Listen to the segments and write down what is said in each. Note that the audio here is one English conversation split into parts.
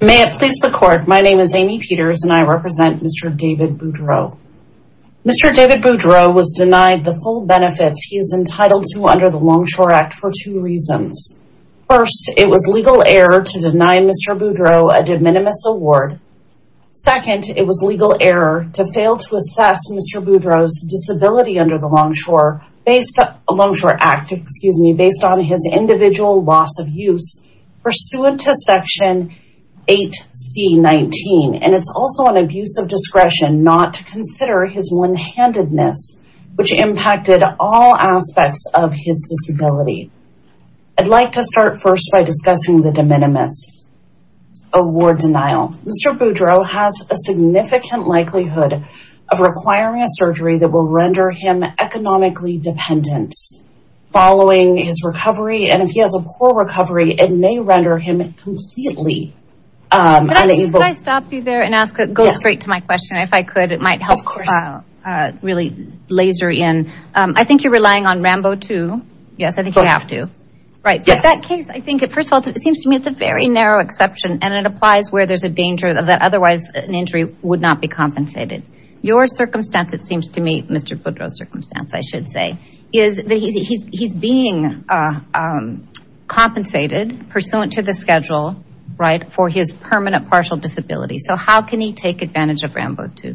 May it please the court, my name is Amy Peters and I represent Mr. David Boudreau. Mr. David Boudreau was denied the full benefits he is entitled to under the Longshore Act for two reasons. First, it was legal error to deny Mr. Boudreau a de minimis award. Second, it was legal error to fail to assess Mr. Boudreau's disability under the Longshore Longshore Act, excuse me, based on his individual loss of use pursuant to Section 8C19 and it's also an abuse of discretion not to consider his one-handedness which impacted all aspects of his disability. I'd like to start first by discussing the de minimis award denial. Mr. Boudreau has a significant likelihood of requiring a surgery that will render him economically dependent following his recovery and if he has a poor recovery it may render him completely unable. Can I stop you there and ask, go straight to my question if I could, it might help really laser in. I think you're relying on RAMBO too, yes I think you have to, right, but that case I think it first of all it seems to me it's a very narrow exception and it applies where there's a danger that otherwise an injury would not be compensated. Your circumstance it seems to me, Mr. Boudreau's circumstance I should say, is that he's being compensated pursuant to the schedule, right, for his permanent partial disability. So how can he take advantage of RAMBO 2?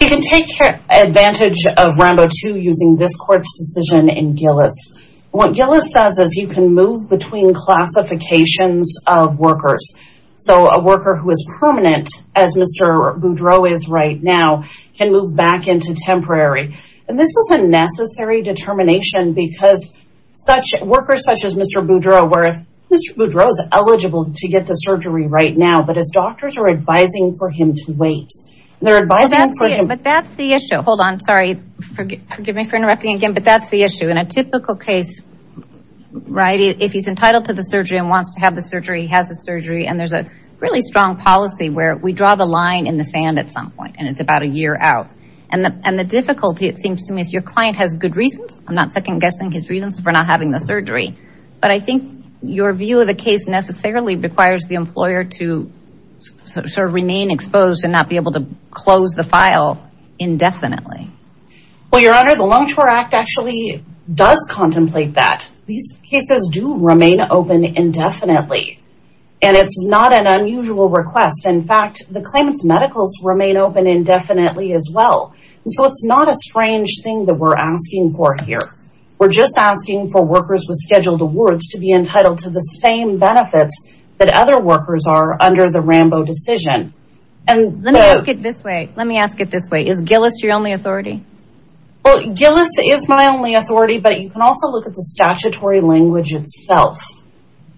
He can take advantage of RAMBO 2 using this court's decision in Gillis. What Gillis does is you can move between classifications of workers. So a worker who is permanent, as Mr. Boudreau is right now, can move back into temporary. And this is a necessary determination because such workers such as Mr. Boudreau, where if Mr. Boudreau is eligible to get the surgery right now, but his doctors are advising for him to wait. But that's the issue, hold on, sorry, forgive me for writing. If he's entitled to the surgery and wants to have the surgery, he has the surgery, and there's a really strong policy where we draw the line in the sand at some point and it's about a year out. And the difficulty it seems to me is your client has good reasons, I'm not second-guessing his reasons for not having the surgery, but I think your view of the case necessarily requires the employer to sort of remain exposed and not be able to close the file indefinitely. Well, Your Honor, the Longshore Act actually does contemplate that. These cases do remain open indefinitely, and it's not an unusual request. In fact, the claimants' medicals remain open indefinitely as well. And so it's not a strange thing that we're asking for here. We're just asking for workers with scheduled awards to be entitled to the same benefits that other workers are under the Rambo decision. Let me ask it this way. Is Gillis your only authority? Well, Gillis is my only authority, but you can also look at the statutory language itself.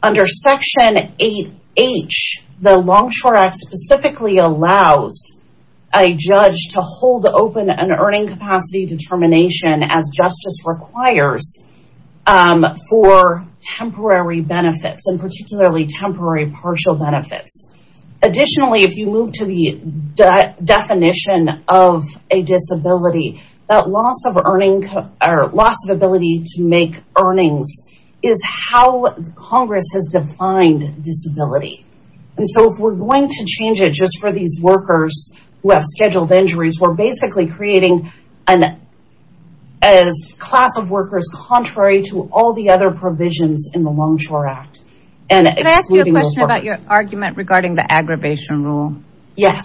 Under Section 8H, the Longshore Act specifically allows a judge to hold open an earning capacity determination as justice requires for temporary benefits, and particularly temporary partial benefits. Additionally, if you move to the definition of a disability, that loss of ability to make earnings is how Congress has defined disability. And so if we're going to change it just for these workers who have scheduled injuries, we're basically creating a class of workers contrary to all the other provisions in the Longshore Act. And can I ask you a question about your argument regarding the aggravation rule? Yes.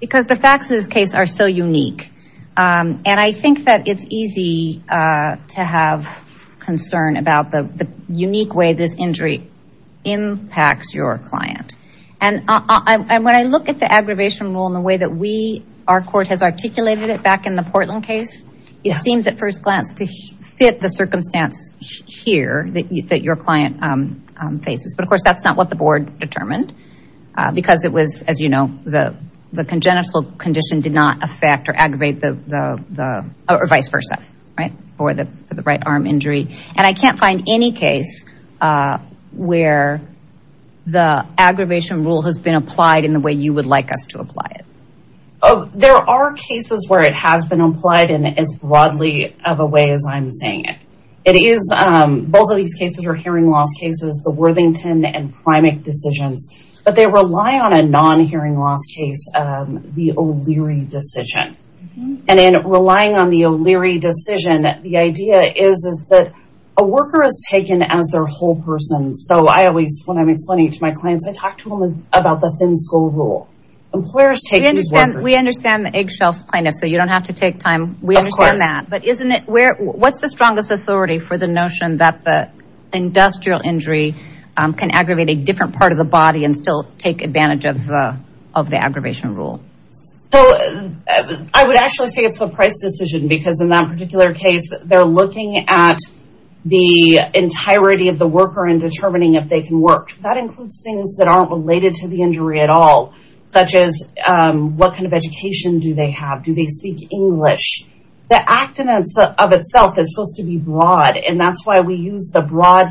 Because the facts of this case are so unique, and I think that it's easy to have concern about the unique way this injury impacts your client. And when I look at the aggravation rule in the way that our court has articulated it back in the Portland case, it seems at first glance to fit the circumstance here that your client faces. But of course, that's not what the board determined because it was, as you know, the congenital condition did not affect or aggravate the, or vice versa, for the right arm injury. And I can't find any case where the aggravation rule has been applied in the way you would like us to apply it. Oh, there are cases where it has been applied in as broadly of a way as I'm saying it. It is, both of these cases are hearing loss cases, the Worthington and Primack decisions, but they rely on a non-hearing loss case, the O'Leary decision. And in relying on the O'Leary decision, the idea is that a worker is taken as their whole person. So I always, when I'm explaining to my clients, I talk to them about the thin-skull rule. Employers take these workers. We understand the eggshells plaintiff, so you don't have to take time. We understand that. But isn't it, what's the strongest authority for the notion that the industrial injury can aggravate a different part of the body and still take advantage of the aggravation rule? So I would actually say it's a price decision because in that particular case, they're looking at the entirety of the worker and determining if they can work. That includes things that aren't related to the injury at all, such as what kind of education do they have? Do they speak English? The act of itself is supposed to be broad. And that's why we use the broad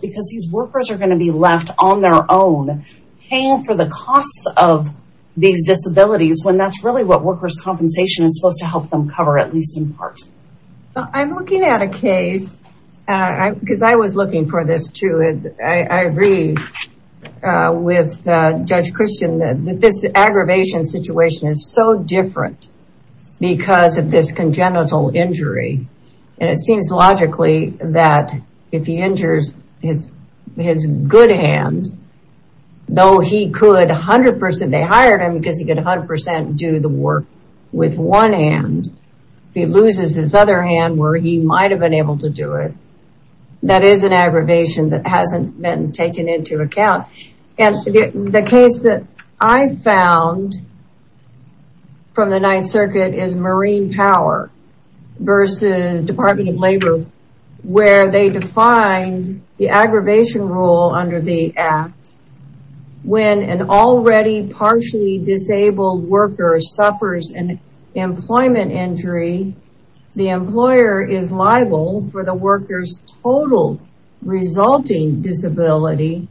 because these workers are going to be left on their own, paying for the costs of these disabilities when that's really what workers' compensation is supposed to help them cover, at least in part. I'm looking at a case, because I was looking for this too. I agree with Judge Christian that this aggravation situation is so different because of this is his good hand, though he could 100%, they hired him because he could 100% do the work with one hand. He loses his other hand where he might have been able to do it. That is an aggravation that hasn't been taken into account. And the case that I found from the Ninth Circuit is Marine Power versus Department of Labor, where they define the aggravation rule under the act, when an already partially disabled worker suffers an employment injury, the employer is liable for the worker's total resulting disability,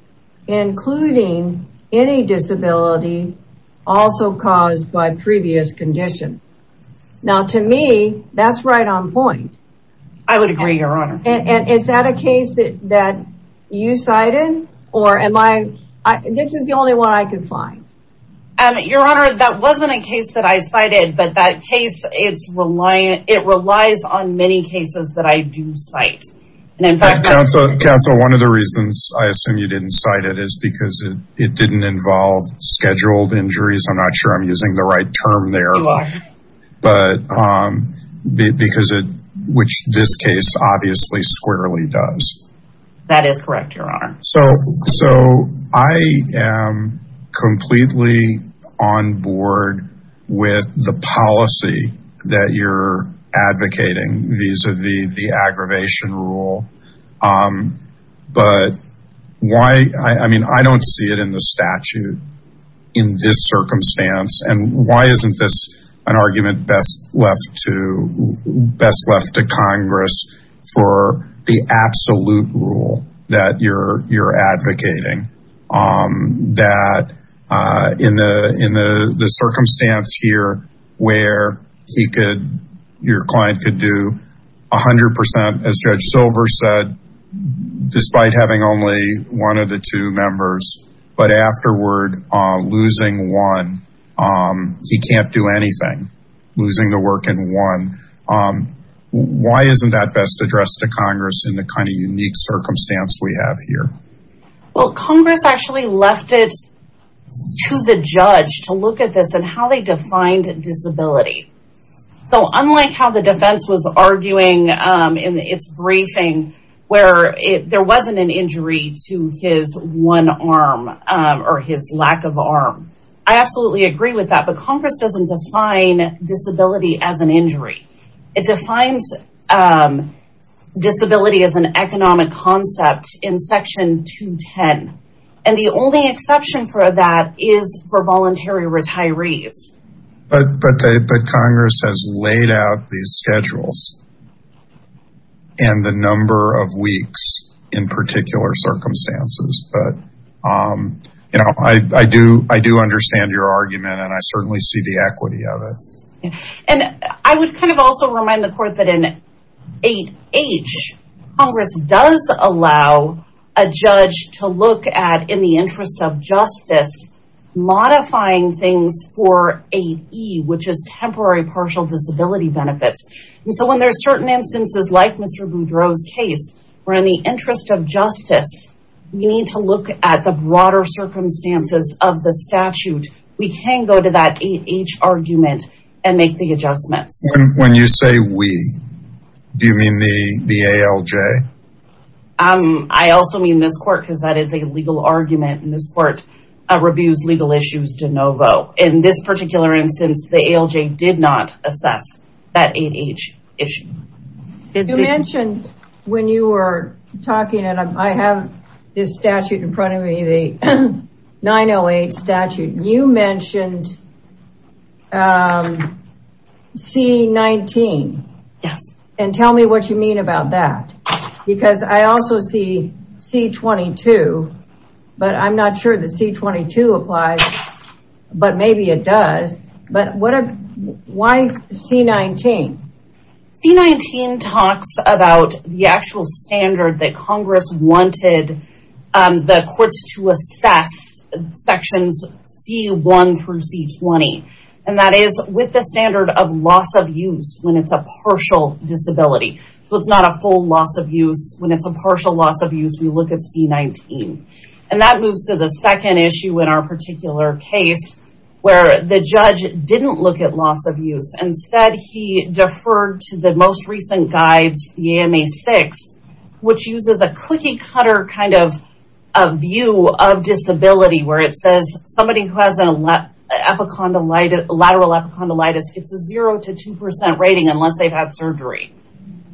including any disability also caused by previous condition. Now, to me, that's right on point. I would agree, Your Honor. Is that a case that you cited? Or am I, this is the only one I could find. Your Honor, that wasn't a case that I cited, but that case, it's reliant, it relies on many cases that I do cite. Council, one of the reasons I assume you didn't cite it is because it didn't involve scheduled injuries. I'm not sure I'm using the right term there, but because it, which this case obviously squarely does. That is correct, Your Honor. So I am completely on board with the policy that you're advocating vis-a-vis the aggravation rule. But why, I mean, I don't see it in the why isn't this an argument best left to Congress for the absolute rule that you're advocating? That in the circumstance here where he could, your client could do 100%, as Judge Silver said, despite having only one of the two members, but afterward losing one, he can't do anything, losing the work in one. Why isn't that best addressed to Congress in the kind of unique circumstance we have here? Well, Congress actually left it to the judge to look at this and how they defined disability. So unlike how the defense was arguing in its briefing, where there wasn't an injury to his one arm or his lack of arm. I absolutely agree with that, but Congress doesn't define disability as an injury. It defines disability as an economic concept in section 210. And the only exception for that is for voluntary schedules and the number of weeks in particular circumstances. But I do understand your argument and I certainly see the equity of it. And I would kind of also remind the court that in 8H, Congress does allow a judge to look at, in the interest of justice, modifying things for 8E, which is temporary partial disability benefits. And so when there's certain instances like Mr. Boudreau's case, where in the interest of justice, we need to look at the broader circumstances of the statute, we can go to that 8H argument and make the adjustments. When you say we, do you mean the ALJ? I also mean this court because that is a legal argument and this court reviews legal issues de novo. In this particular instance, the ALJ did not assess that 8H issue. You mentioned when you were talking, and I have this statute in front of me, the 908 statute, you mentioned C19. Yes. And tell me what you mean about that. Because I also see C22, but I'm not sure that C22 applies, but maybe it does. But why C19? C19 talks about the actual standard that Congress wanted the courts to assess sections C1 through C20. And that is with the standard of loss of use when it's a partial disability. So it's not a full loss of use. When it's a partial loss of use, we look at C19. And that moves to the second issue in our particular case, where the judge didn't look at loss of use. Instead, he deferred to the most recent guides, the AMA-6, which uses a cookie kind of view of disability, where it says somebody who has a lateral epicondylitis, it's a zero to 2% rating unless they've had surgery.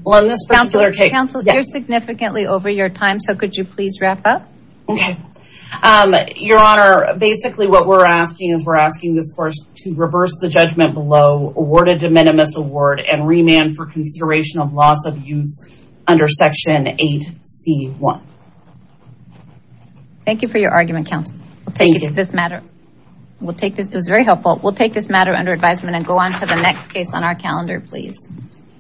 Well, in this particular case- Counselor, you're significantly over your time, so could you please wrap up? Okay. Your Honor, basically what we're asking is we're asking this court to reverse the judgment below, award a de minimis award, and remand for consideration of loss of use under section 8C1. Thank you for your argument, Counselor. We'll take this matter under advisement and go on to the next case on our calendar, please.